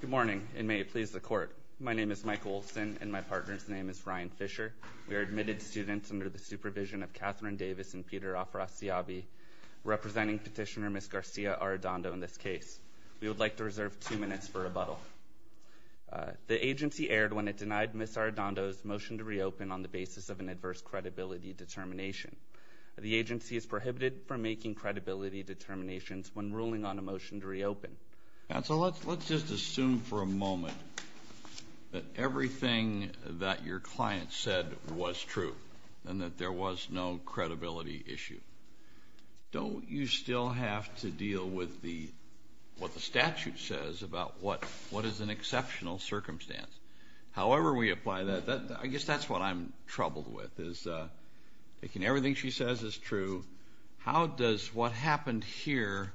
Good morning and may it please the court. My name is Michael Olson and my partner's name is Ryan Fisher. We are admitted students under the supervision of Catherine Davis and Peter Afrasiabi, representing petitioner Ms. Garcia Arredondo in this case. We would like to reserve two minutes for rebuttal. The basis of an adverse credibility determination. The agency is prohibited from making credibility determinations when ruling on a motion to reopen. Counsel, let's just assume for a moment that everything that your client said was true and that there was no credibility issue. Don't you still have to deal with the what the statute says about what what is an exceptional circumstance? However we apply that that I guess that's what I'm troubled with is taking everything she says is true. How does what happened here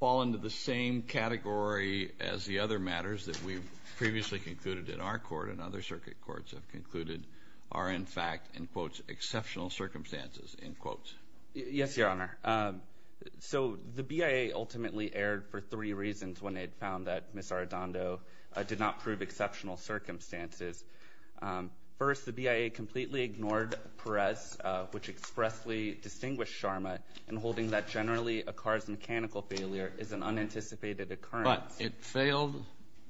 fall into the same category as the other matters that we've previously concluded in our court and other circuit courts have concluded are in fact in quotes exceptional circumstances in quotes? Yes your honor. So the BIA ultimately aired for three reasons when they found that Ms. Arredondo did not prove exceptional circumstances. First the BIA completely ignored Perez which expressly distinguished Sharma in holding that generally a car's mechanical failure is an unanticipated occurrence. But it failed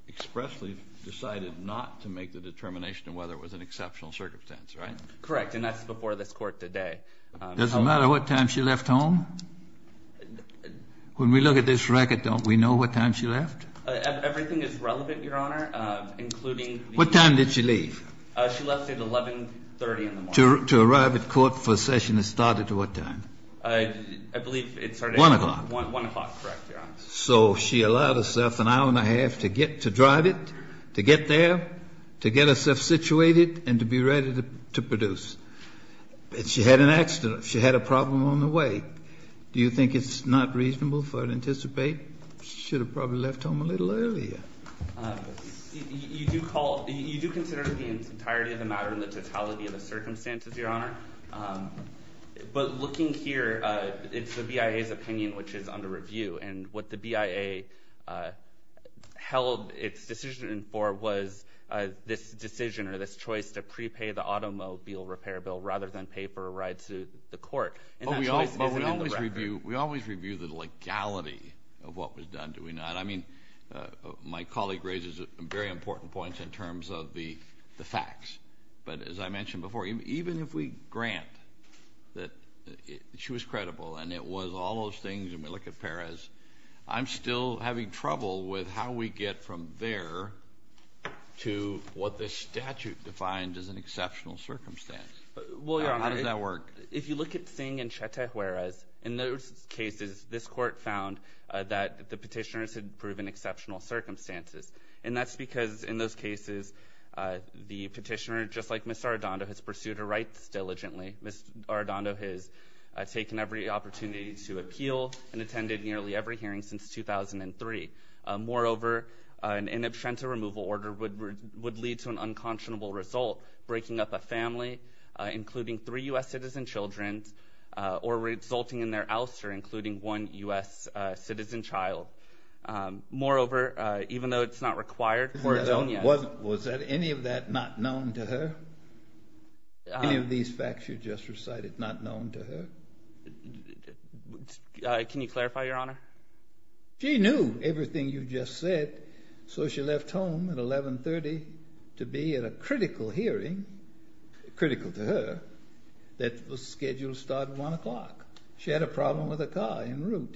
expressly decided not to make the determination of whether it was an exceptional circumstance right? Correct and that's before this court today. Does it matter what time she left home? When we look at this record don't we know what time she left? Everything is relevant your honor including. What time did she leave? She left at 1130 in the morning. To arrive at court for a session that started at what time? I believe it started. One o'clock. One o'clock correct your honor. So she allowed herself an hour and a half to get to drive it to get there to get herself situated and to be ready to produce. She had an accident she had a problem on the way. Do you think it's not reasonable for her to anticipate? She should have probably left home a little earlier. You do call you do consider the entirety of the matter in the totality of the circumstances your honor. But looking here it's the BIA's opinion which is under review and what the BIA held its decision for was this decision or this choice to prepay the court. We always review the legality of what was done do we not? I mean my colleague raises very important points in terms of the the facts but as I mentioned before even if we grant that she was credible and it was all those things and we look at Perez I'm still having trouble with how we get from there to what this statute defined as an exceptional circumstance. How does that look at Singh and Chete Juarez? In those cases this court found that the petitioners had proven exceptional circumstances and that's because in those cases the petitioner just like Ms. Arredondo has pursued her rights diligently. Ms. Arredondo has taken every opportunity to appeal and attended nearly every hearing since 2003. Moreover an in absentia removal order would lead to an unconscionable result breaking up a family including three US citizen children's or resulting in their ouster including one US citizen child. Moreover even though it's not required. Was that any of that not known to her? Any of these facts you just recited not known to her? Can you clarify your honor? She knew everything you just said so she left home at 1130 to be at a hearing critical to her that was scheduled to start one o'clock. She had a problem with a car en route.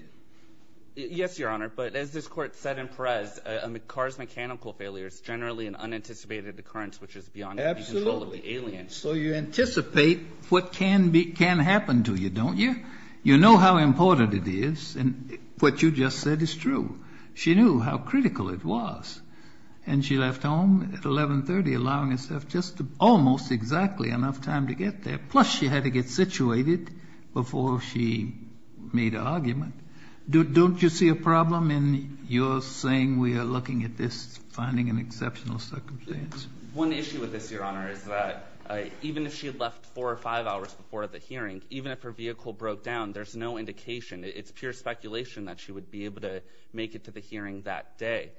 Yes your honor but as this court said in Perez a car's mechanical failure is generally an unanticipated occurrence which is beyond control of the alien. So you anticipate what can be can happen to you don't you? You know how important it is and what you just said is true. She knew how almost exactly enough time to get there plus she had to get situated before she made an argument. Don't you see a problem in your saying we are looking at this finding an exceptional circumstance? One issue with this your honor is that even if she had left four or five hours before the hearing even if her vehicle broke down there's no indication it's pure speculation that she would be able to make it to the hearing that day.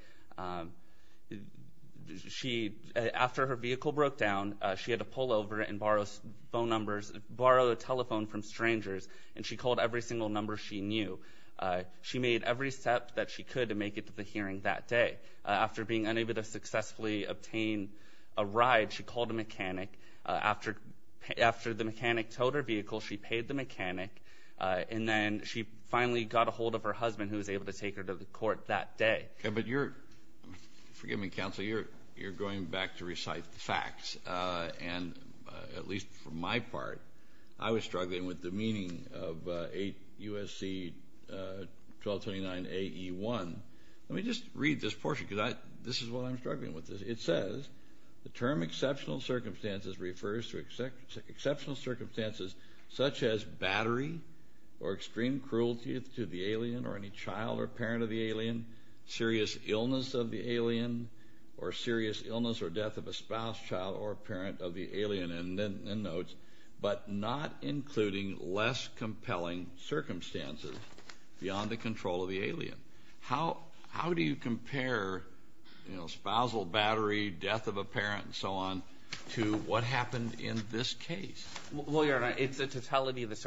After her vehicle broke down she had to pull over and borrow phone numbers borrow a telephone from strangers and she called every single number she knew. She made every step that she could to make it to the hearing that day. After being unable to successfully obtain a ride she called a mechanic. After the mechanic towed her vehicle she paid the mechanic and then she finally got a hold of her husband who was able to take her to the court that day. But you're, forgive me counsel, you're you're going back to recite the facts and at least for my part I was struggling with the meaning of 8 U.S.C. 1229 A.E. 1. Let me just read this portion because this is what I'm struggling with. It says the term exceptional circumstances refers to exceptional circumstances such as battery or extreme cruelty to the alien or any child or parent of the alien serious illness of the alien or serious illness or death of a spouse child or parent of the alien and then notes but not including less compelling circumstances beyond the control of the alien. How how do you compare you know spousal battery death of a parent and so on to what happened in this case? Well your honor it's a totality of the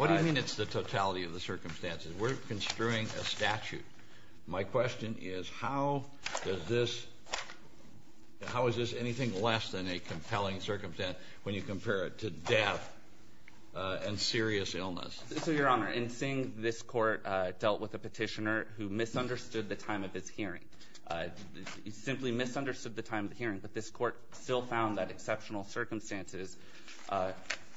I mean it's the totality of the circumstances. We're construing a statute. My question is how does this how is this anything less than a compelling circumstance when you compare it to death and serious illness? So your honor in seeing this court dealt with a petitioner who misunderstood the time of his hearing. He simply misunderstood the time of the hearing but this court still found that exceptional circumstances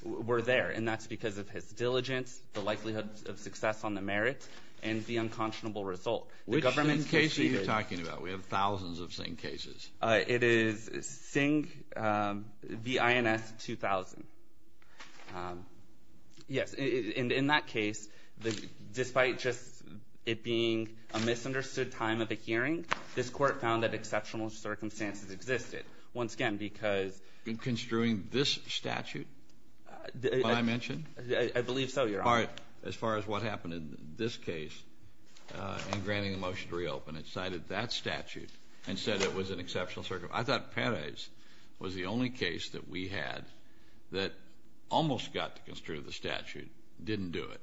were there and that's because of his diligence the likelihood of success on the merit and the unconscionable result. Which case are you talking about? We have thousands of Singh cases. It is Singh v. INS 2000. Yes in that case the despite just it being a misunderstood time of the hearing this court found that exceptional circumstances existed once again because in construing this statute I mentioned. I believe so your honor. As far as what happened in this case in granting the motion to reopen it cited that statute and said it was an exceptional circumstance. I thought Perez was the only case that we had that almost got to construe the statute didn't do it.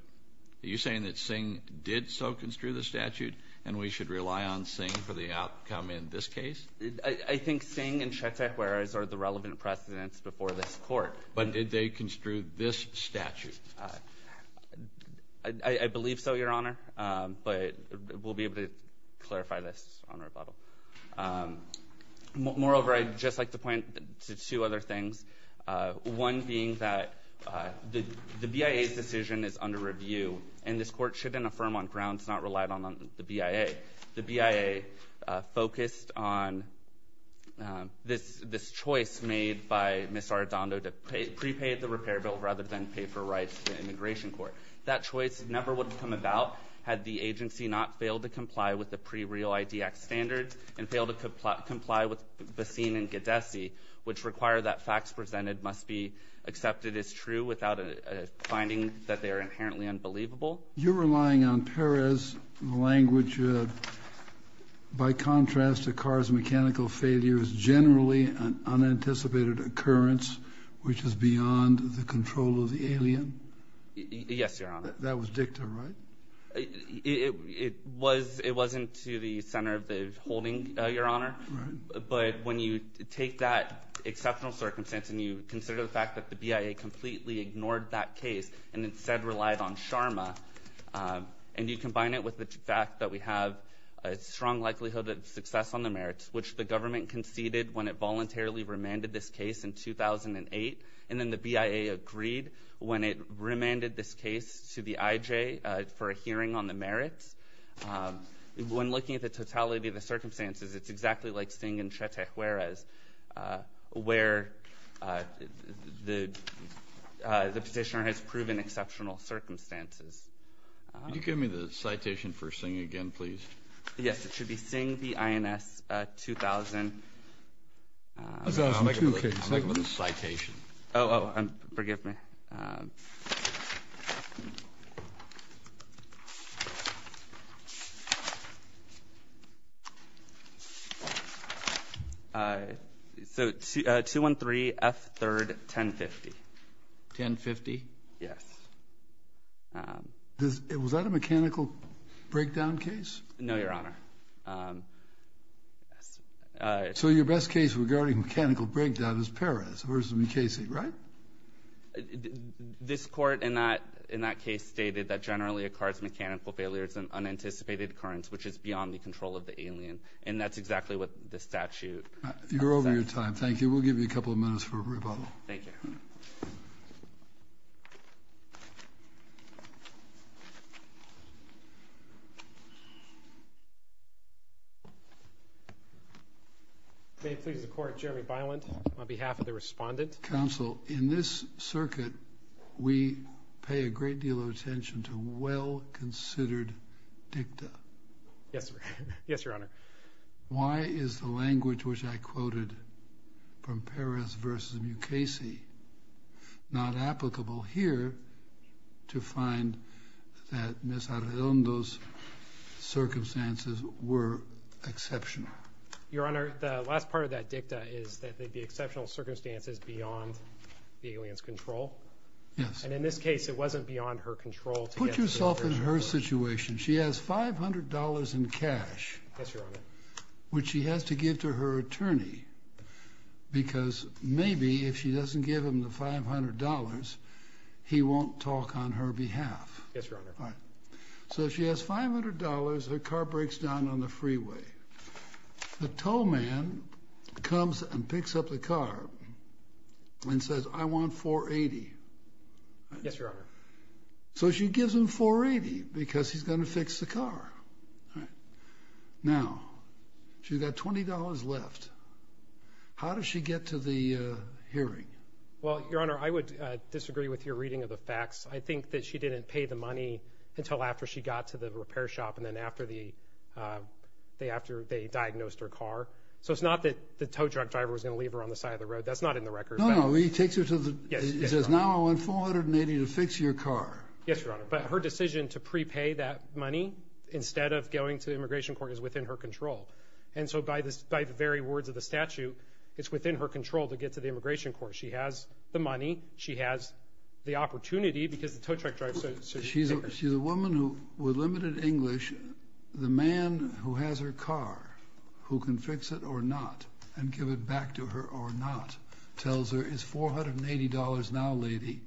Are you saying that Singh did so construe the statute and we should rely on Singh for the outcome in this case? I think Singh and Shetekwaras are the relevant precedents before this court. But did they construe this statute? I believe so your honor but we'll be able to clarify this on rebuttal. Moreover I'd just like to point to two other things. One being that the the BIA's decision is under review and this court shouldn't affirm on grounds not relied on on the BIA. The BIA focused on this this choice made by Ms. Arradondo to pay prepaid the repair bill rather than pay for rights to the immigration court. That choice never would have come about had the agency not failed to comply with the pre real IDX standards and fail to comply comply with Basin and Gadesi which require that facts presented must be accepted as true without a finding that they are By contrast to Carr's mechanical failure is generally an unanticipated occurrence which is beyond the control of the alien. Yes your honor. That was dicta right? It was it wasn't to the center of the holding your honor. But when you take that exceptional circumstance and you consider the fact that the BIA completely ignored that case and instead relied on Sharma and you combine it with the fact that we have a strong likelihood of success on the merits which the government conceded when it voluntarily remanded this case in 2008 and then the BIA agreed when it remanded this case to the IJ for a hearing on the merits. When looking at the totality of the circumstances it's exactly like seeing in Chatejueras where the the petitioner has proven exceptional circumstances. Can you give me the citation for Singh again please? Yes it should be Singh v. INS 2000. Oh forgive me. So 213 F 3rd 1050. 1050? Yes. Was that a mechanical breakdown case? No your honor. So your best case regarding mechanical breakdown is Perez versus in that case stated that generally occurs mechanical failures and unanticipated occurrence which is beyond the control of the alien and that's exactly what the statute. You're over your time. Thank you. We'll give you a couple of minutes for rebuttal. Thank you. May it please the court. Jeremy Byland on behalf of the respondent. Counsel in this case there was a great deal of attention to well-considered dicta. Yes. Yes your honor. Why is the language which I quoted from Perez versus Mukasey not applicable here to find that Ms. Arredondo's circumstances were exceptional? Your honor the last part of that dicta is that they'd be exceptional circumstances beyond the aliens control. Yes. And in this case it wasn't beyond her control. Put yourself in her situation. She has $500 in cash which she has to give to her attorney because maybe if she doesn't give him the $500 he won't talk on her behalf. Yes your honor. So she has $500 her car breaks down on the freeway. The tow man comes and picks up the car and says I want $480. Yes your honor. So she gives him $480 because he's going to fix the car. Now she's got $20 left. How does she get to the hearing? Well your honor I would disagree with your reading of the facts. I think that she didn't pay the money until after she got to the repair shop and then after they diagnosed her car. So it's not that the tow truck driver was going to leave her on the side of the road. That's not in the record. No no. He takes her to the, he says now I want $480 to fix your car. Yes your honor. But her decision to prepay that money instead of going to the Immigration Court is within her control. And so by this by the very words of the statute it's within her control to get to the Immigration Court. She has the money. She has the opportunity because the tow truck driver says. She's a woman with limited English. The man who has her car who can fix it or not and give it back to her or not tells her it's $480 now lady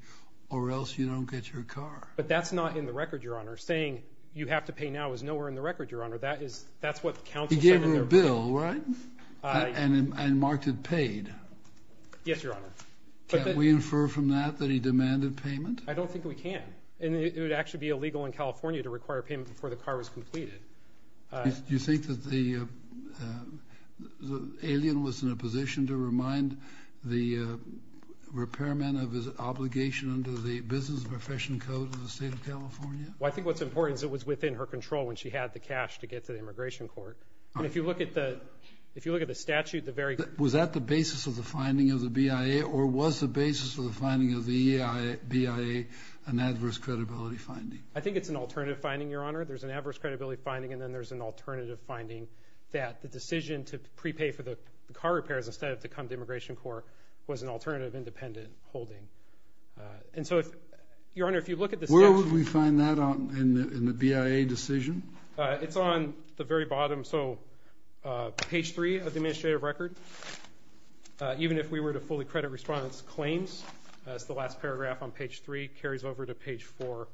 or else you don't get your car. But that's not in the record your honor. Saying you have to pay now is nowhere in the record your honor. That is that's what counsel said. He gave her a bill right? And marked it paid. Yes your honor. Can we infer from that that he demanded payment? I don't think we can. And it would actually be illegal in California to require payment before the car was completed. You think that the alien was in a position to remind the repairman of his obligation under the Business Profession Code of the state of California? Well I think what's important is it was within her control when she had the cash to get to the Immigration Court. And if you look at the if you look at the statute the very. Was that the basis of the finding of the BIA or was the basis of the finding of the BIA an adverse credibility finding? I think it's an alternative finding your honor. There's an adverse credibility finding and then there's an alternative finding that the decision to prepay for the car repairs instead of to come to Immigration Court was an alternative independent holding. And so if your honor if you look at this. Where would we find that in the BIA decision? It's on the very bottom. So page 3 of the administrative record. Even if we were to fully credit respondents claims. That's the last paragraph on page 3. Carries over to page 4.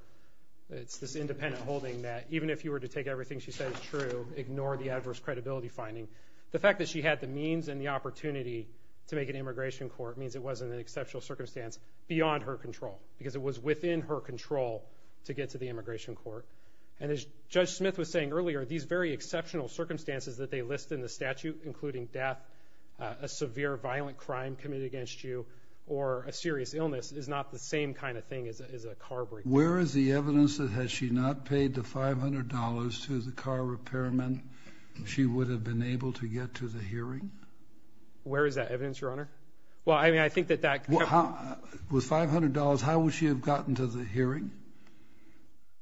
It's this independent holding that even if you were to take everything she said is true, ignore the adverse credibility finding. The fact that she had the means and the opportunity to make an Immigration Court means it wasn't an exceptional circumstance beyond her control. Because it was within her control to get to the Immigration Court. And as Judge Smith was saying earlier these very exceptional circumstances that they list in the statute including death, a severe violent crime committed against you, or a serious illness is not the same kind of thing as a car break. Where is the evidence that had she not paid the $500 to the car repairman she would have been able to get to the hearing? Where is that evidence, Your Honor? Well, I mean I think that that... With $500, how would she have gotten to the hearing?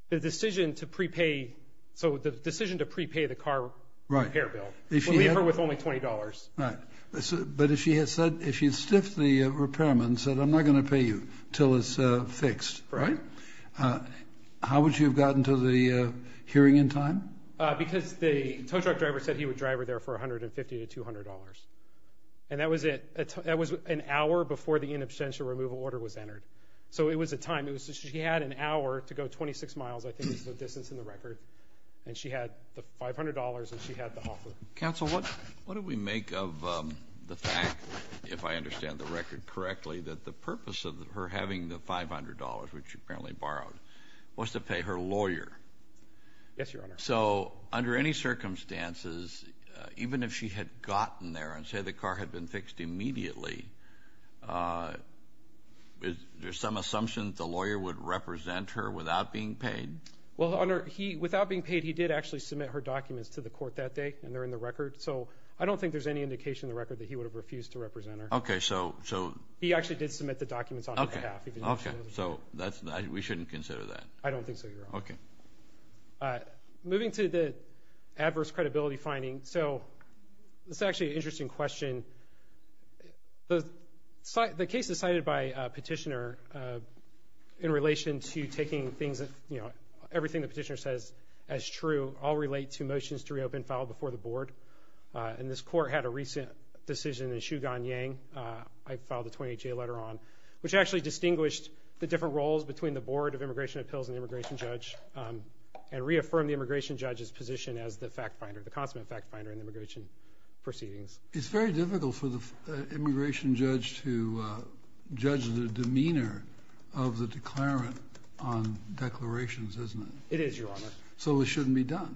The decision to prepay, so the decision to prepay the car repair bill. We leave her with only $20. Right. But if she had said, if she'd stiffed the repairman, said I'm not gonna pay you till it's fixed, right? How would she have gotten to the hearing in time? Because the tow truck driver said he would drive her there for $150 to $200. And that was it. That was an hour before the in absentia removal order was entered. So it was a time. It was she had an hour to go 26 miles, I think is the distance in the record. And she had the $500 and she had the offer. Counsel, what do we make of the fact, if I understand the record correctly, that the purpose of her having the $500, which she apparently borrowed, was to pay her lawyer? Yes, Your Honor. So under any circumstances, even if she had gotten there and said the car had been fixed immediately, is there some assumption that the lawyer would represent her without being paid? Well, Your Honor, he, without being paid, he did actually submit her documents to the court that day and they're in the record. So I don't think there's any indication in the record that he would have refused to represent her. Okay, so, so. He actually did submit the documents on her behalf. Okay, so that's, we shouldn't consider that. I don't think so, Your Honor. Okay. Moving to adverse credibility finding. So this is actually an interesting question. The case is cited by a petitioner in relation to taking things that, you know, everything the petitioner says as true, all relate to motions to reopen filed before the board. And this court had a recent decision in Shugan Yang, I filed the 28-J letter on, which actually distinguished the different roles between the Board of Immigration Appeals and the immigration judge and reaffirmed the position as the fact finder, the consummate fact finder in immigration proceedings. It's very difficult for the immigration judge to judge the demeanor of the declarant on declarations, isn't it? It is, Your Honor. So it shouldn't be done.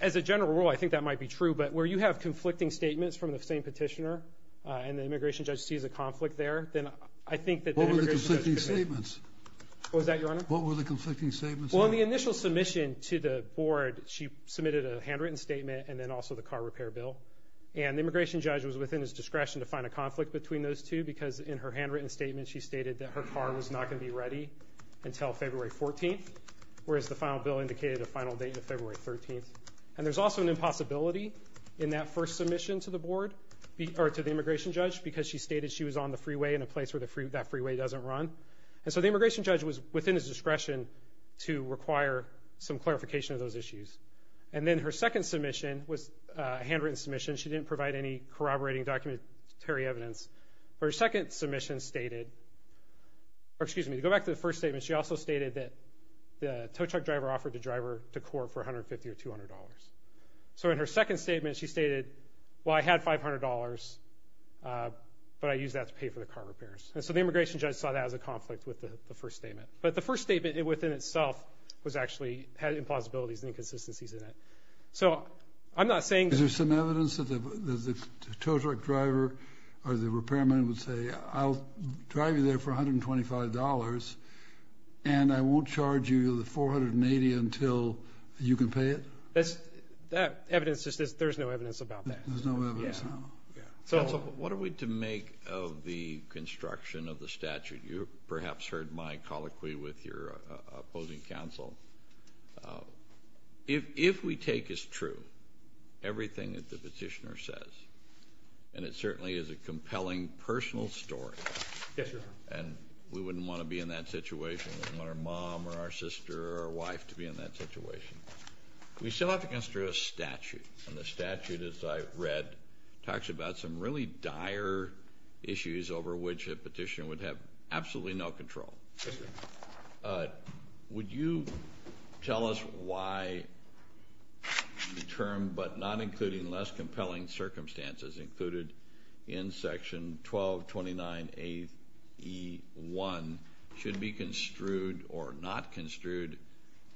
As a general rule, I think that might be true, but where you have conflicting statements from the same petitioner and the immigration judge sees a conflict there, then I think that the immigration judge could be. What were the conflicting statements? What was that, Your Honor? What were the conflicting statements? Well, in the initial submission to the board, she submitted a handwritten statement and then also the car repair bill. And the immigration judge was within his discretion to find a conflict between those two, because in her handwritten statement she stated that her car was not going to be ready until February 14th, whereas the final bill indicated a final date of February 13th. And there's also an impossibility in that first submission to the board, or to the immigration judge, because she stated she was on the freeway in a place where that freeway doesn't run. And so the immigration judge was within his discretion to require some clarification of those issues. And then her second submission was a handwritten submission. She didn't provide any corroborating documentary evidence. Her second submission stated, or excuse me, to go back to the first statement, she also stated that the tow truck driver offered to drive her to court for $150 or $200. So in her second statement, she stated, well, I had $500, but I used that to pay for the car repairs. And so the immigration judge saw that as a conflict with the first statement. But the first statement, within itself, was actually, had implausibilities and inconsistencies in it. So I'm not saying... Is there some evidence that the tow truck driver or the repairman would say, I'll drive you there for $125 and I won't charge you the $480 until you can pay it? That evidence, there's no evidence about that. So what are we to make of the construction of the statute? You perhaps heard my colloquy with your opposing counsel. If we take as true everything that the petitioner says, and it certainly is a compelling personal story, and we wouldn't want to be in that situation, we wouldn't want our mom or our sister or our wife to be in that situation, we still have to consider a statute. And the text that I read talks about some really dire issues over which a petitioner would have absolutely no control. Would you tell us why the term, but not including less compelling circumstances, included in section 1229AE1 should be construed or not construed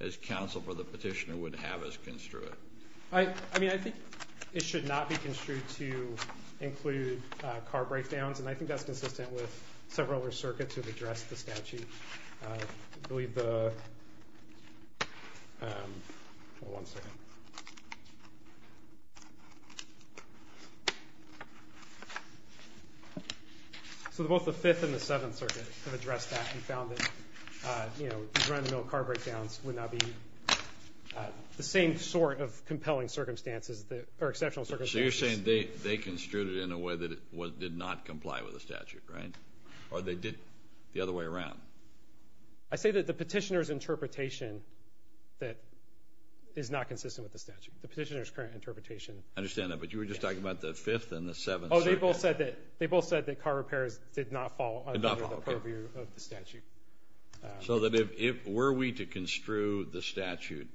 as counsel for the petitioner would have us construe it? I mean, I think it should not be construed to include car breakdowns, and I think that's consistent with several other circuits who have addressed the statute. I believe the... So both the Fifth and the Seventh Circuit have addressed that and found that run-of-mill car breakdowns would not be the same sort of compelling circumstances or exceptional circumstances. So you're saying they construed it in a way that did not comply with the statute, right? Or they did the other way around? I say that the petitioner's interpretation that is not consistent with the statute, the petitioner's current interpretation. I understand that, but you were just talking about the Fifth and the Seventh Circuit. Oh, they both said that car repairs did not fall under the purview of the statute. So that if were we to construe the statute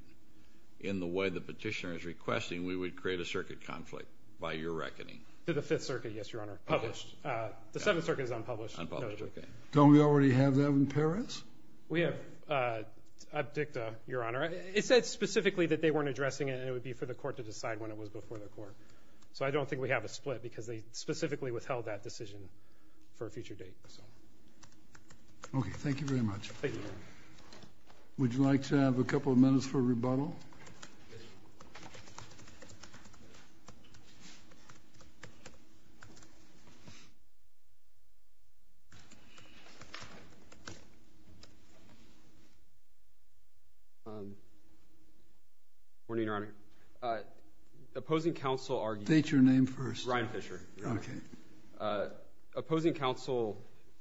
in the way the petitioner is requesting, we would create a circuit conflict by your reckoning. To the Fifth Circuit, yes, Your Honor. Published. The Seventh Circuit is unpublished. Unpublished, okay. Don't we already have that in Paris? We have abdicta, Your Honor. It said specifically that they weren't addressing it, and it would be for the court to decide when it was before the court. So I don't think we have a split because they specifically withheld that decision for a future date. Okay, thank you very much. Thank you. Would you like to have a couple of minutes for rebuttal? Morning, Your Honor. Opposing counsel argued... State your name first. Ryan Fisher. Okay. Opposing counsel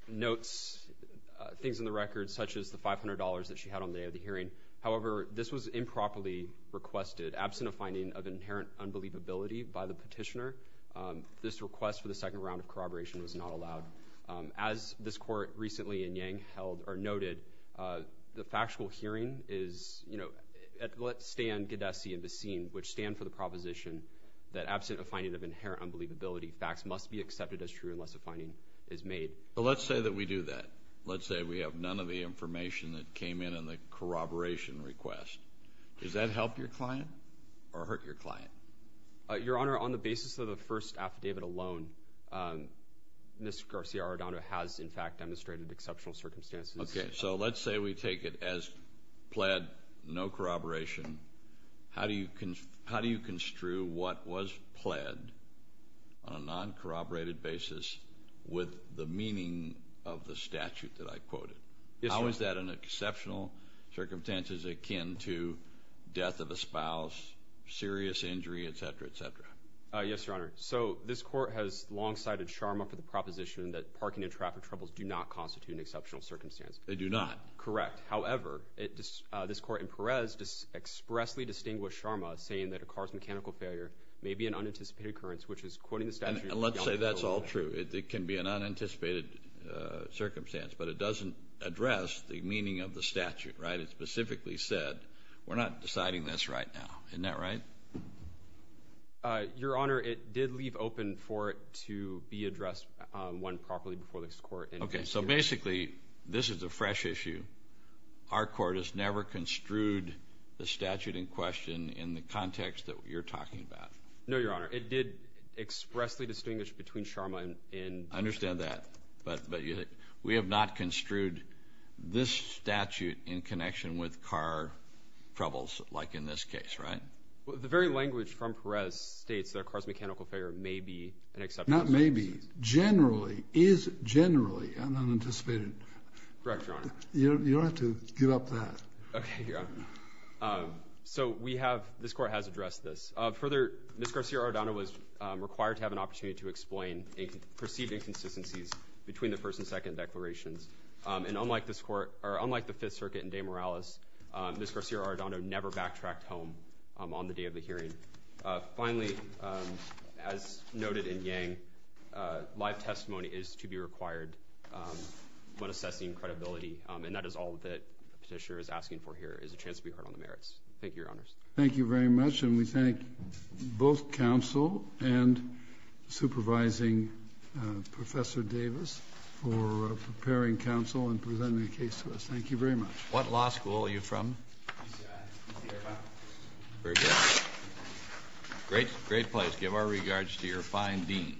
notes things in the record such as the $500 that she had on the day of the hearing. However, this was improperly requested. Absent a finding of inherent unbelievability by the petitioner, this request for the second round of corroboration was not allowed. As this court recently in Yang held or noted, the factual hearing is, you know, let stand Gadesi and Bessine, facts must be accepted as true unless a finding is made. Let's say that we do that. Let's say we have none of the information that came in on the corroboration request. Does that help your client or hurt your client? Your Honor, on the basis of the first affidavit alone, Ms. Garcia-Ardano has, in fact, demonstrated exceptional circumstances. Okay, so let's say we take it as pled, no corroboration. How do you construe what was on a non corroborated basis with the meaning of the statute that I quoted? How is that an exceptional circumstances akin to death of a spouse, serious injury, etcetera, etcetera? Yes, Your Honor. So this court has long sided Sharma for the proposition that parking and traffic troubles do not constitute an exceptional circumstance. They do not. Correct. However, this court in Perez just expressly distinguished Sharma saying that a car's mechanical failure may be an unanticipated occurrence, which is quoting the statute. Let's say that's all true. It can be an unanticipated circumstance, but it doesn't address the meaning of the statute, right? It specifically said we're not deciding this right now. Isn't that right? Your Honor, it did leave open for it to be addressed one properly before this court. Okay, so basically this is a fresh issue. Our court has never construed the statute in question in the context that you're talking about. No, Your Honor. It did expressly distinguish between Sharma and... I understand that, but we have not construed this statute in connection with car troubles, like in this case, right? The very language from Perez states that a car's mechanical failure may be an exceptional circumstance. Not maybe. Generally, is generally an unanticipated... Correct, Your Honor. You Your Honor. So we have... This court has addressed this. Further, Ms. Garcia-Ardano was required to have an opportunity to explain perceived inconsistencies between the first and second declarations. And unlike the Fifth Circuit and De Morales, Ms. Garcia-Ardano never backtracked home on the day of the hearing. Finally, as noted in Yang, live testimony is to be required when assessing credibility, and that is all that petitioner is a chance to be heard on the merits. Thank you, Your Honors. Thank you very much. And we thank both counsel and supervising Professor Davis for preparing counsel and presenting a case to us. Thank you very much. What law school are you from? UCI. UC Irvine. Very good. Great, great place. Give our regards to your fine dean.